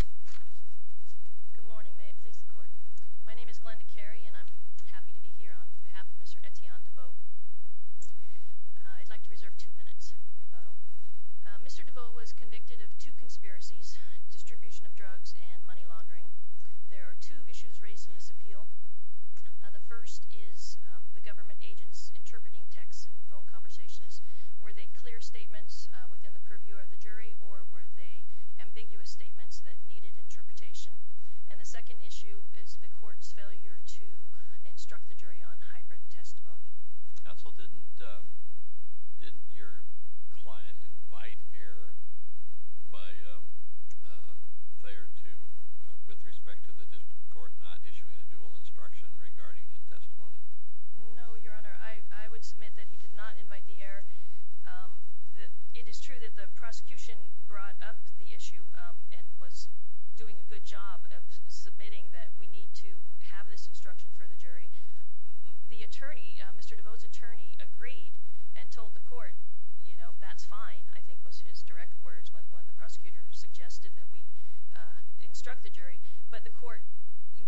Good morning. May it please the Court. My name is Glenda Carey and I'm happy to be here on behalf of Mr. Etienne Devoe. I'd like to reserve two minutes for rebuttal. Mr. Devoe was convicted of two conspiracies, distribution of drugs and money laundering. There are two issues raised in this appeal. The first is the government agents interpreting texts and phone conversations. Were they clear statements within the purview of the jury or were they ambiguous statements that needed interpretation? And the second issue is the Court's failure to instruct the jury on hybrid testimony. Counsel, didn't your client invite error with respect to the District Court not issuing a dual instruction regarding his testimony? No, Your Honor. I would submit that he did not invite the error. It is true that the prosecution brought up the issue and was doing a good job of submitting that we need to have this instruction for the jury. The attorney, Mr. Devoe's attorney, agreed and told the Court, you know, that's fine, I think was his direct words when the prosecutor suggested that we instruct the jury. But the Court,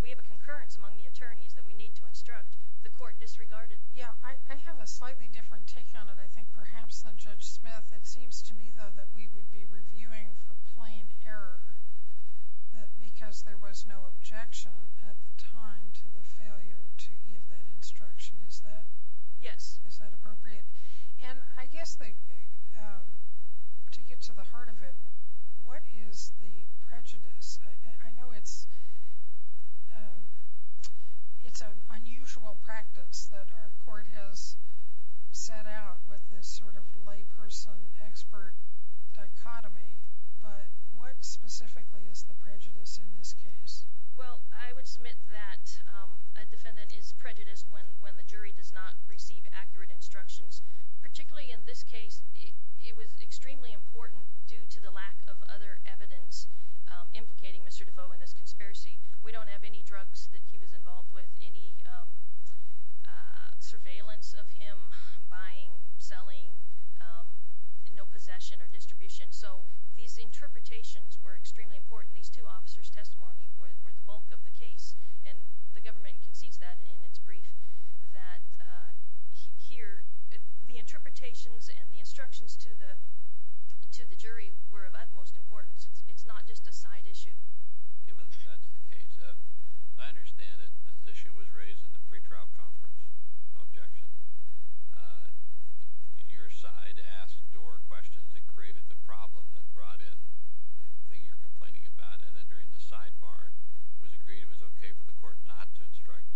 we have a concurrence among the attorneys that we need to instruct. The Court disregarded it. Yeah, I have a slightly different take on it, I think, perhaps than Judge Smith. It seems to me, though, that we would be reviewing for plain error because there was no objection at the time to the failure to give that instruction. Is that— Yes. Is that appropriate? And I guess to get to the heart of it, what is the prejudice? I know it's an unusual practice that our Court has set out with this sort of layperson-expert dichotomy, but what specifically is the prejudice in this case? Well, I would submit that a defendant is prejudiced when the jury does not receive accurate instructions. Particularly in this case, it was extremely important due to the lack of other evidence implicating Mr. Devoe in this conspiracy. We don't have any drugs that he was involved with, any surveillance of him, buying, selling, no possession or distribution. So these interpretations were extremely important. These two officers' testimony were the bulk of the case, and the government concedes that in its brief, that here the interpretations and the instructions to the jury were of utmost importance. It's not just a side issue. Given that that's the case, I understand that this issue was raised in the pretrial conference, no objection. Your side asked door questions that created the problem that brought in the thing you're complaining about, and then during the sidebar, it was agreed it was okay for the Court not to instruct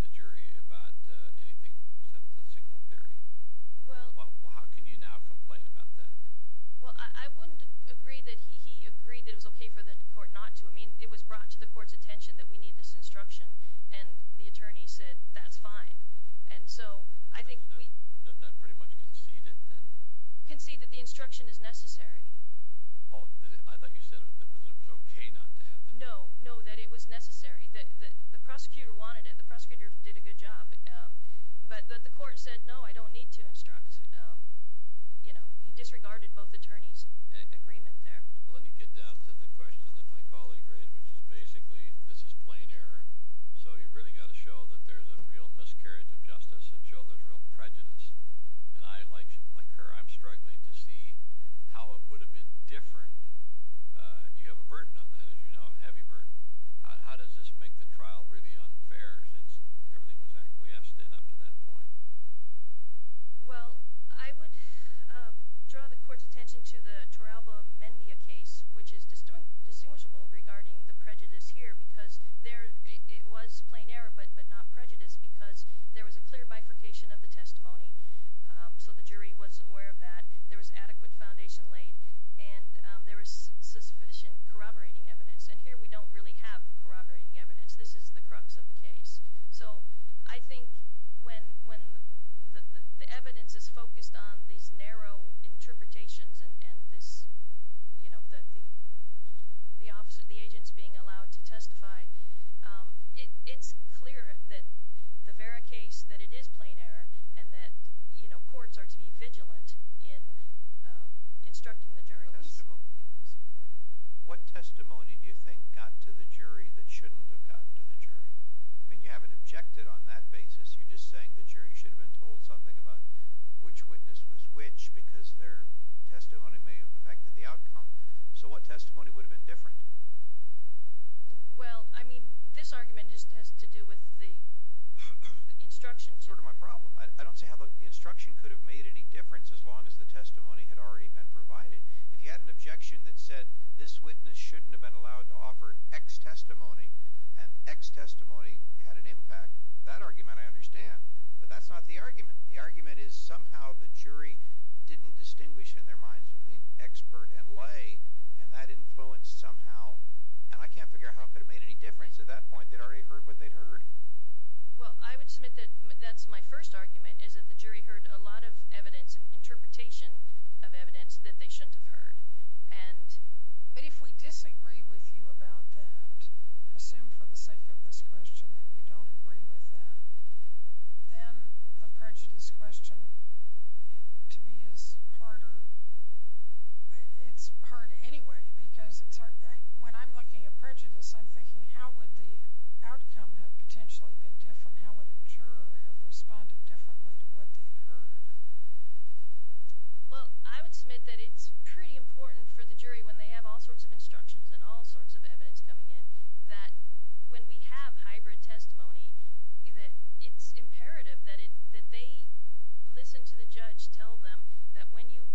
the jury about anything except the signal theory. How can you now complain about that? Well, I wouldn't agree that he agreed that it was okay for the Court not to. I mean, it was brought to the Court's attention that we need this instruction, and the attorney said that's fine. And so I think we— Doesn't that pretty much concede it then? Concede that the instruction is necessary. Oh, I thought you said that it was okay not to have it. No, no, that it was necessary. The prosecutor wanted it. The prosecutor did a good job. But the Court said, no, I don't need to instruct. You know, he disregarded both attorneys' agreement there. Well, let me get down to the question that my colleague raised, which is basically this is plain error, so you've really got to show that there's a real miscarriage of justice and show there's real prejudice. And I, like her, I'm struggling to see how it would have been different. You have a burden on that, as you know, a heavy burden. How does this make the trial really unfair since everything was acquiesced in up to that point? Well, I would draw the Court's attention to the Toralba-Mendia case, which is distinguishable regarding the prejudice here because there— it was plain error but not prejudice because there was a clear bifurcation of the testimony, so the jury was aware of that. There was adequate foundation laid, and there was sufficient corroborating evidence. And here we don't really have corroborating evidence. This is the crux of the case. So I think when the evidence is focused on these narrow interpretations and the agents being allowed to testify, it's clear that the Vera case, that it is plain error, and that courts are to be vigilant in instructing the jury. What testimony do you think got to the jury that shouldn't have gotten to the jury? I mean, you haven't objected on that basis. You're just saying the jury should have been told something about which witness was which because their testimony may have affected the outcome. So what testimony would have been different? Well, I mean, this argument just has to do with the instructions. That's sort of my problem. I don't see how the instruction could have made any difference as long as the testimony had already been provided. If you had an objection that said this witness shouldn't have been allowed to offer X testimony and X testimony had an impact, that argument I understand. But that's not the argument. The argument is somehow the jury didn't distinguish in their minds between expert and lay, and that influenced somehow, and I can't figure out how it could have made any difference. At that point, they'd already heard what they'd heard. Well, I would submit that that's my first argument, is that the jury heard a lot of evidence and interpretation of evidence that they shouldn't have heard. But if we disagree with you about that, assume for the sake of this question that we don't agree with that, then the prejudice question, to me, is harder. It's hard anyway because when I'm looking at prejudice, I'm thinking, how would the outcome have potentially been different? How would a juror have responded differently to what they had heard? Well, I would submit that it's pretty important for the jury, when they have all sorts of instructions and all sorts of evidence coming in, that when we have hybrid testimony, that it's imperative that they listen to the judge tell them that when you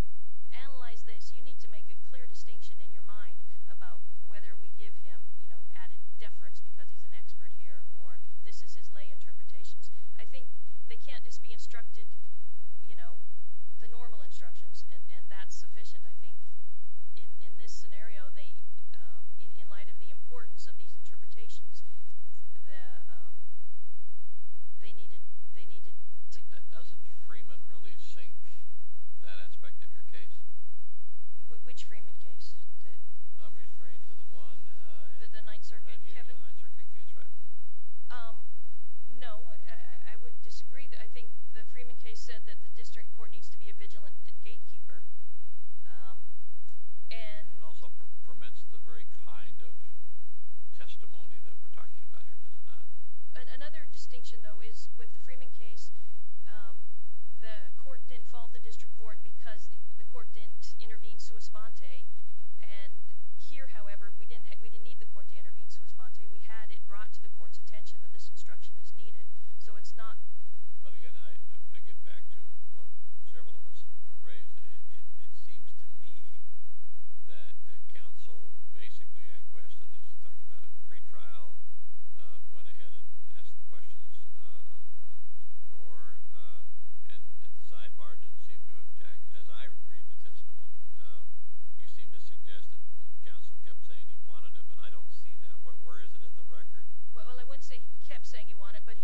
analyze this, you need to make a clear distinction in your mind about whether we give him added deference because he's an expert here or this is his lay interpretations. I think they can't just be instructed the normal instructions, and that's sufficient. I think in this scenario, in light of the importance of these interpretations, they needed to – Doesn't Freeman really sink that aspect of your case? Which Freeman case? I'm referring to the one – The Ninth Circuit, Kevin? The 1998 Ninth Circuit case, right? No. I would disagree. I think the Freeman case said that the district court needs to be a vigilant gatekeeper. It also permits the very kind of testimony that we're talking about here, does it not? Another distinction, though, is with the Freeman case, the court didn't fault the district court because the court didn't intervene sua sponte, and here, however, we didn't need the court to intervene sua sponte. We had it brought to the court's attention that this instruction is needed. So it's not – But, again, I get back to what several of us have raised. It seems to me that counsel basically acquiesced, and they talked about it in pretrial, went ahead and asked the questions of the juror, and at the sidebar didn't seem to object. As I read the testimony, you seem to suggest that counsel kept saying he wanted it, but I don't see that. Where is it in the record? Well, I wouldn't say he kept saying he wanted it, but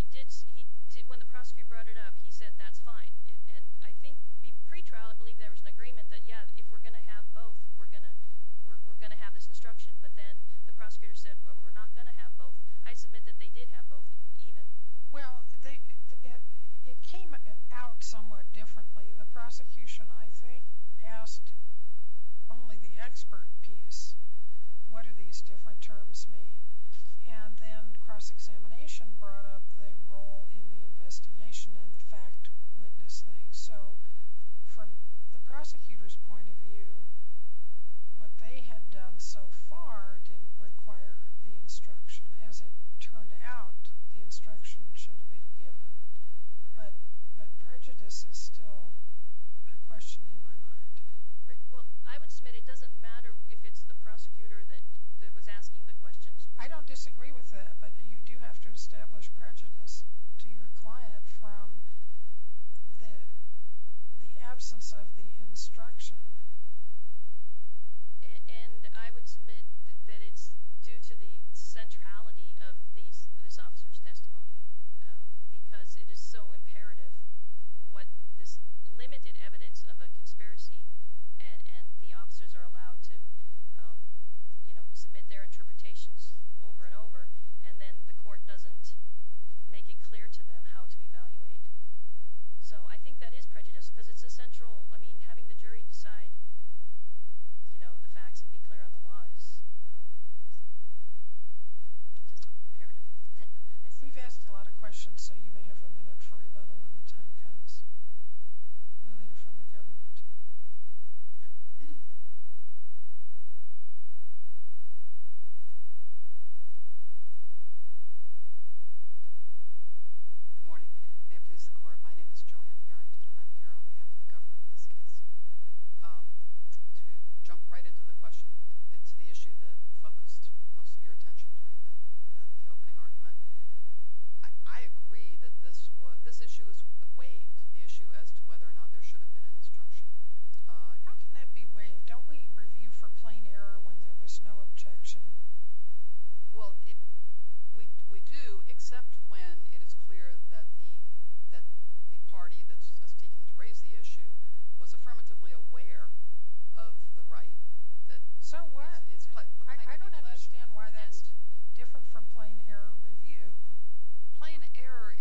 when the prosecutor brought it up, he said that's fine. And I think pretrial, I believe there was an agreement that, yeah, if we're going to have both, we're going to have this instruction. But then the prosecutor said, well, we're not going to have both. I submit that they did have both even. Well, it came out somewhat differently. The prosecution, I think, asked only the expert piece. What do these different terms mean? And then cross-examination brought up the role in the investigation and the fact witness thing. So from the prosecutor's point of view, what they had done so far didn't require the instruction. As it turned out, the instruction should have been given. But prejudice is still a question in my mind. Well, I would submit it doesn't matter if it's the prosecutor that was asking the questions. I don't disagree with that, but you do have to establish prejudice to your client from the absence of the instruction. And I would submit that it's due to the centrality of this officer's testimony because it is so imperative what this limited evidence of a conspiracy and the officers are allowed to submit their interpretations over and over, and then the court doesn't make it clear to them how to evaluate. So I think that is prejudice because it's essential. I mean, having the jury decide the facts and be clear on the law is just imperative. We've asked a lot of questions, so you may have a minute for rebuttal when the time comes. We'll hear from the government. Good morning. May it please the Court, my name is Joanne Harrington, and I'm here on behalf of the government in this case. To jump right into the question, into the issue that focused most of your attention during the opening argument, I agree that this issue is waived, the issue as to whether or not there should have been an instruction. How can that be waived? Don't we review for plain error when there was no objection? Well, we do, except when it is clear that the party that's speaking to raise the issue was affirmatively aware of the right. So what? I don't understand why that's different from plain error review. Plain error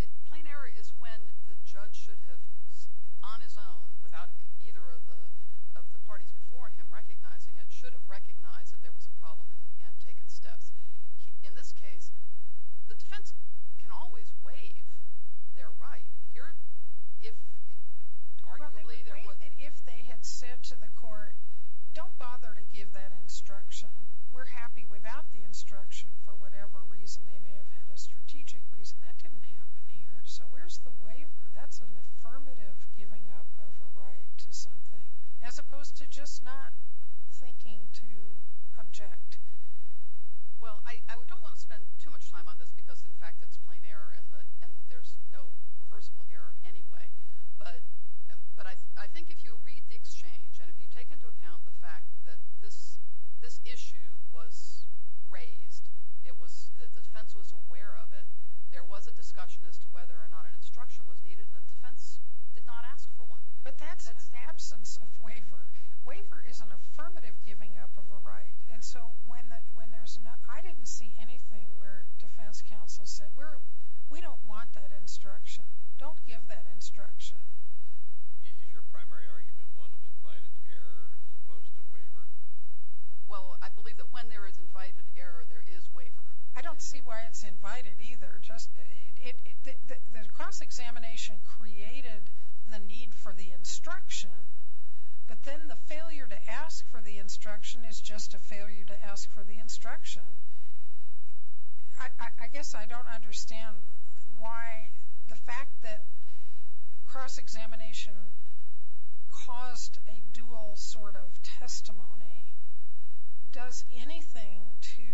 is when the judge should have, on his own, without either of the parties before him recognizing it, should have recognized that there was a problem and taken steps. In this case, the defense can always waive their right. Well, they would waive it if they had said to the Court, don't bother to give that instruction. We're happy without the instruction for whatever reason. They may have had a strategic reason. That didn't happen here, so where's the waiver? That's an affirmative giving up of a right to something, as opposed to just not thinking to object. Well, I don't want to spend too much time on this because, in fact, it's plain error and there's no reversible error anyway. But I think if you read the exchange and if you take into account the fact that this issue was raised, the defense was aware of it, there was a discussion as to whether or not an instruction was needed, and the defense did not ask for one. But that's in the absence of waiver. Waiver is an affirmative giving up of a right. And so I didn't see anything where defense counsel said, we don't want that instruction. Don't give that instruction. Is your primary argument one of invited error as opposed to waiver? Well, I believe that when there is invited error, there is waiver. I don't see why it's invited either. The cross-examination created the need for the instruction, but then the failure to ask for the instruction is just a failure to ask for the instruction. I guess I don't understand why the fact that cross-examination caused a dual sort of testimony does anything to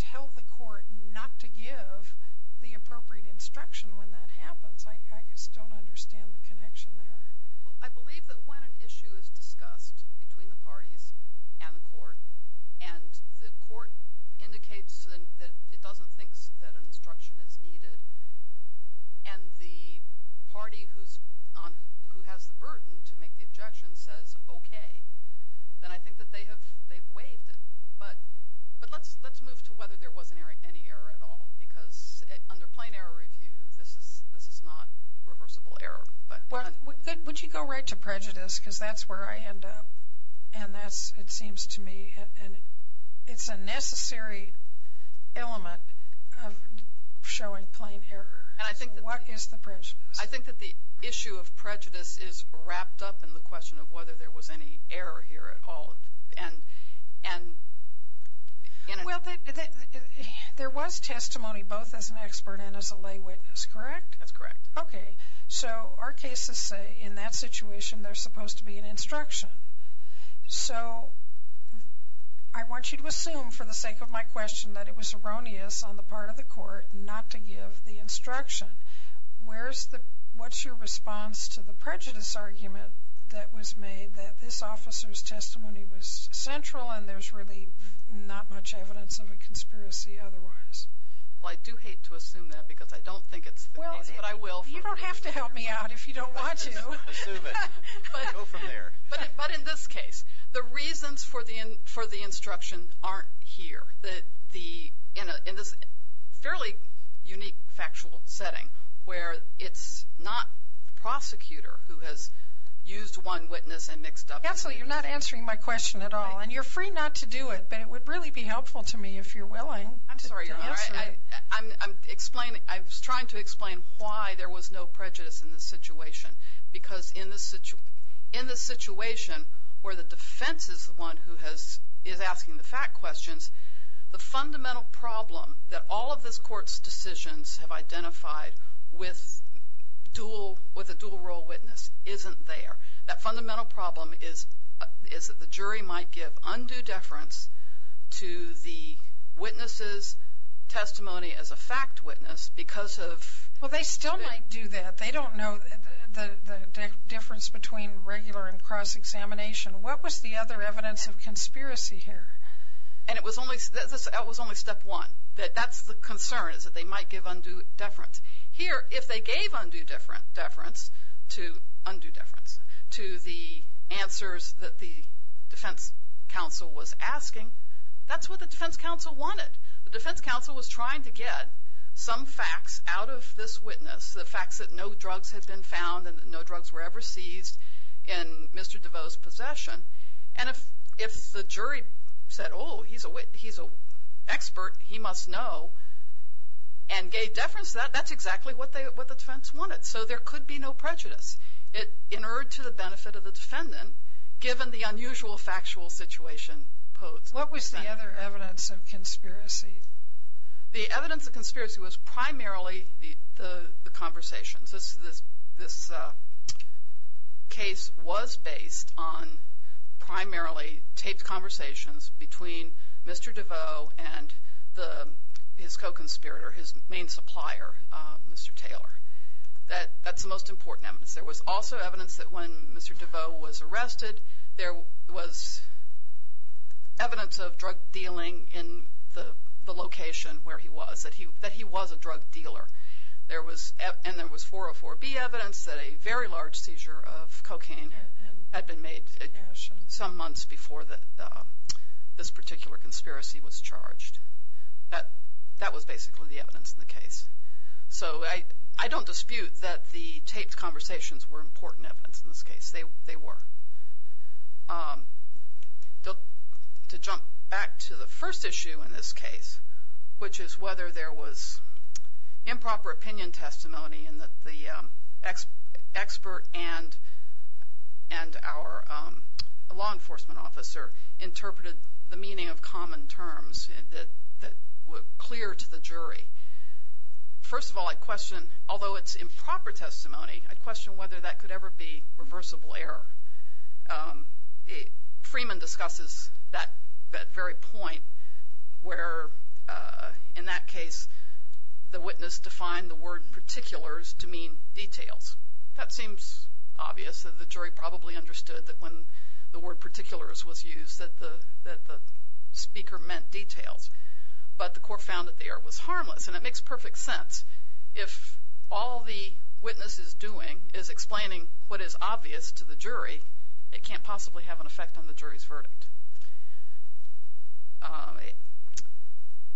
tell the court not to give the appropriate instruction when that happens. I just don't understand the connection there. Well, I believe that when an issue is discussed between the parties and the court, and the court indicates that it doesn't think that an instruction is needed, and the party who has the burden to make the objection says okay, then I think that they have waived it. But let's move to whether there was any error at all, because under plain error review, this is not reversible error. Would you go right to prejudice, because that's where I end up, and that's, it seems to me, it's a necessary element of showing plain error. What is the prejudice? I think that the issue of prejudice is wrapped up in the question of whether there was any error here at all. Well, there was testimony both as an expert and as a lay witness, correct? That's correct. Okay. So our cases say in that situation there's supposed to be an instruction. So I want you to assume, for the sake of my question, that it was erroneous on the part of the court not to give the instruction. What's your response to the prejudice argument that was made, that this officer's testimony was central and there's really not much evidence of a conspiracy otherwise? Well, I do hate to assume that because I don't think it's the case, but I will. You don't have to help me out if you don't want to. Assume it. Go from there. But in this case, the reasons for the instruction aren't here. In this fairly unique factual setting where it's not the prosecutor who has used one witness and mixed up the case. Absolutely. You're not answering my question at all, and you're free not to do it, but it would really be helpful to me if you're willing to answer it. I'm sorry, Your Honor. I'm trying to explain why there was no prejudice in this situation because in this situation where the defense is the one who is asking the fact questions, the fundamental problem that all of this court's decisions have identified with a dual-role witness isn't there. That fundamental problem is that the jury might give undue deference to the witness's testimony as a fact witness because of… Well, they still might do that. They don't know the difference between regular and cross-examination. What was the other evidence of conspiracy here? And it was only step one. That's the concern is that they might give undue deference. Here, if they gave undue deference to the answers that the defense counsel was asking, that's what the defense counsel wanted. The defense counsel was trying to get some facts out of this witness, the facts that no drugs had been found and no drugs were ever seized in Mr. DeVos' possession. And if the jury said, oh, he's an expert, he must know, and gave deference to that, that's exactly what the defense wanted. So there could be no prejudice in order to the benefit of the defendant, given the unusual factual situation posed. What was the other evidence of conspiracy? The evidence of conspiracy was primarily the conversations. This case was based on primarily taped conversations between Mr. DeVos and his co-conspirator, his main supplier, Mr. Taylor. That's the most important evidence. There was also evidence that when Mr. DeVos was arrested, there was evidence of drug dealing in the location where he was, that he was a drug dealer. And there was 404B evidence that a very large seizure of cocaine had been made some months before this particular conspiracy was charged. That was basically the evidence in the case. So I don't dispute that the taped conversations were important evidence in this case. They were. To jump back to the first issue in this case, which is whether there was improper opinion testimony and that the expert and our law enforcement officer interpreted the meaning of common terms that were clear to the jury. First of all, I question, although it's improper testimony, I question whether that could ever be reversible error. Freeman discusses that very point where, in that case, the witness defined the word particulars to mean details. That seems obvious. The jury probably understood that when the word particulars was used, that the speaker meant details. But the court found that the error was harmless, and it makes perfect sense. If all the witness is doing is explaining what is obvious to the jury, it can't possibly have an effect on the jury's verdict. It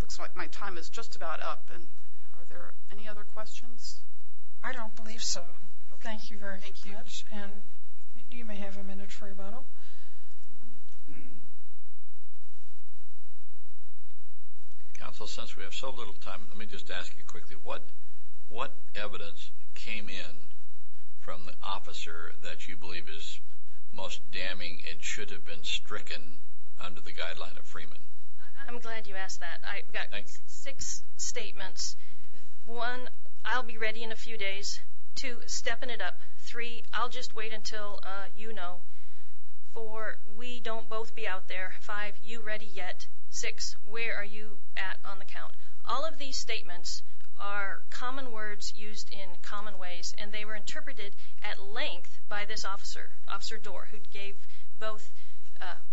looks like my time is just about up. Are there any other questions? I don't believe so. Okay. Thank you very much. Thank you. And you may have a minute for rebuttal. Counsel, since we have so little time, let me just ask you quickly, what evidence came in from the officer that you believe is most damning and should have been stricken under the guideline of Freeman? I'm glad you asked that. I've got six statements. One, I'll be ready in a few days. Two, stepping it up. Three, I'll just wait until you know. Four, we don't both be out there. Five, you ready yet? Six, where are you at on the count? All of these statements are common words used in common ways, and they were interpreted at length by this officer, Officer Doar, who gave both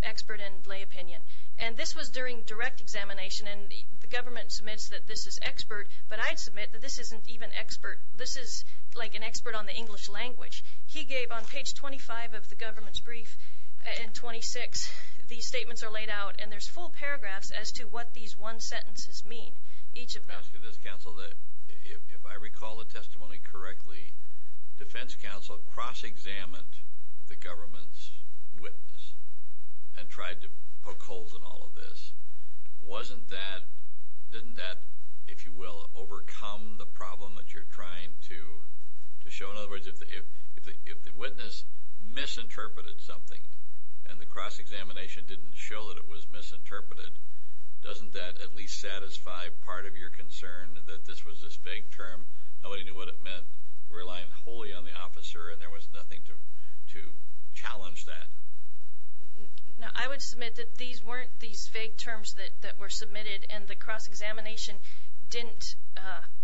expert and lay opinion. And this was during direct examination, and the government submits that this is expert, but I'd submit that this isn't even expert. This is like an expert on the English language. He gave on page 25 of the government's brief, and 26, these statements are laid out, and there's full paragraphs as to what these one sentences mean, each of them. Let me ask you this, Counsel. If I recall the testimony correctly, defense counsel cross-examined the government's witness and tried to poke holes in all of this. Wasn't that, didn't that, if you will, overcome the problem that you're trying to show? In other words, if the witness misinterpreted something and the cross-examination didn't show that it was misinterpreted, doesn't that at least satisfy part of your concern that this was this vague term? Nobody knew what it meant, relying wholly on the officer, and there was nothing to challenge that. I would submit that these weren't these vague terms that were submitted, and the cross-examination didn't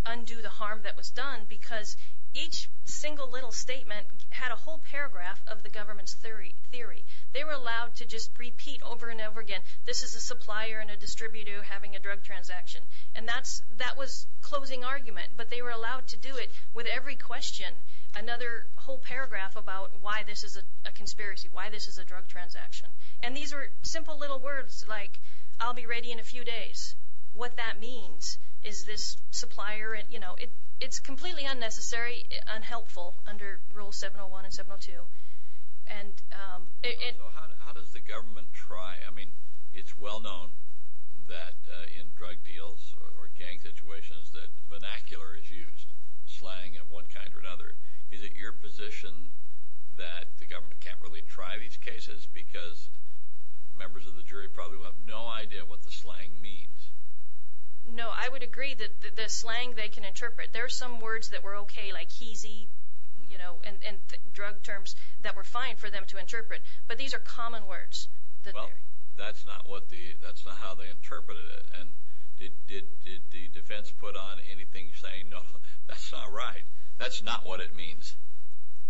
undo the harm that was done because each single little statement had a whole paragraph of the government's theory. They were allowed to just repeat over and over again, this is a supplier and a distributor having a drug transaction, and that was closing argument, but they were allowed to do it with every question, another whole paragraph about why this is a conspiracy, why this is a drug transaction. And these are simple little words like, I'll be ready in a few days. What that means is this supplier, you know, it's completely unnecessary, unhelpful under Rule 701 and 702. So how does the government try? I mean, it's well known that in drug deals or gang situations that vernacular is used, slang of one kind or another. Is it your position that the government can't really try these cases because members of the jury probably will have no idea what the slang means? No, I would agree that the slang they can interpret. There are some words that were okay, like heasy, you know, and drug terms that were fine for them to interpret, but these are common words. Well, that's not how they interpreted it. And did the defense put on anything saying, no, that's not right? That's not what it means.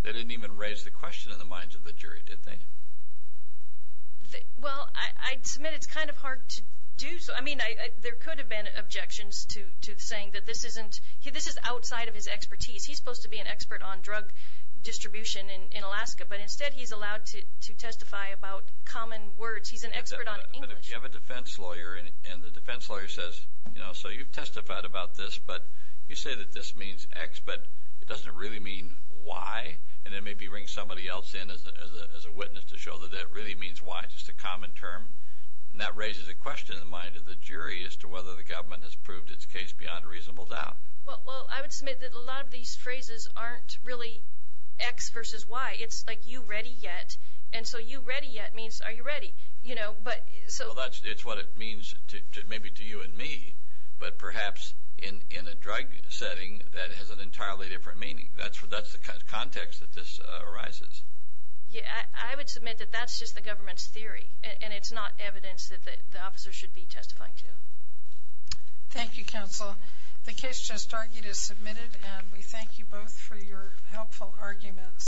They didn't even raise the question in the minds of the jury, did they? Well, I submit it's kind of hard to do. I mean, there could have been objections to saying that this is outside of his expertise. He's supposed to be an expert on drug distribution in Alaska, but instead he's allowed to testify about common words. He's an expert on English. But if you have a defense lawyer and the defense lawyer says, you know, it doesn't really mean why, and then maybe bring somebody else in as a witness to show that that really means why, just a common term, and that raises a question in the mind of the jury as to whether the government has proved its case beyond a reasonable doubt. Well, I would submit that a lot of these phrases aren't really X versus Y. It's like, you ready yet? And so you ready yet means are you ready, you know? Well, it's what it means maybe to you and me, but perhaps in a drug setting that has an entirely different meaning. That's the context that this arises. Yeah, I would submit that that's just the government's theory, and it's not evidence that the officer should be testifying to. Thank you, counsel. The case just argued is submitted, and we thank you both for your helpful arguments.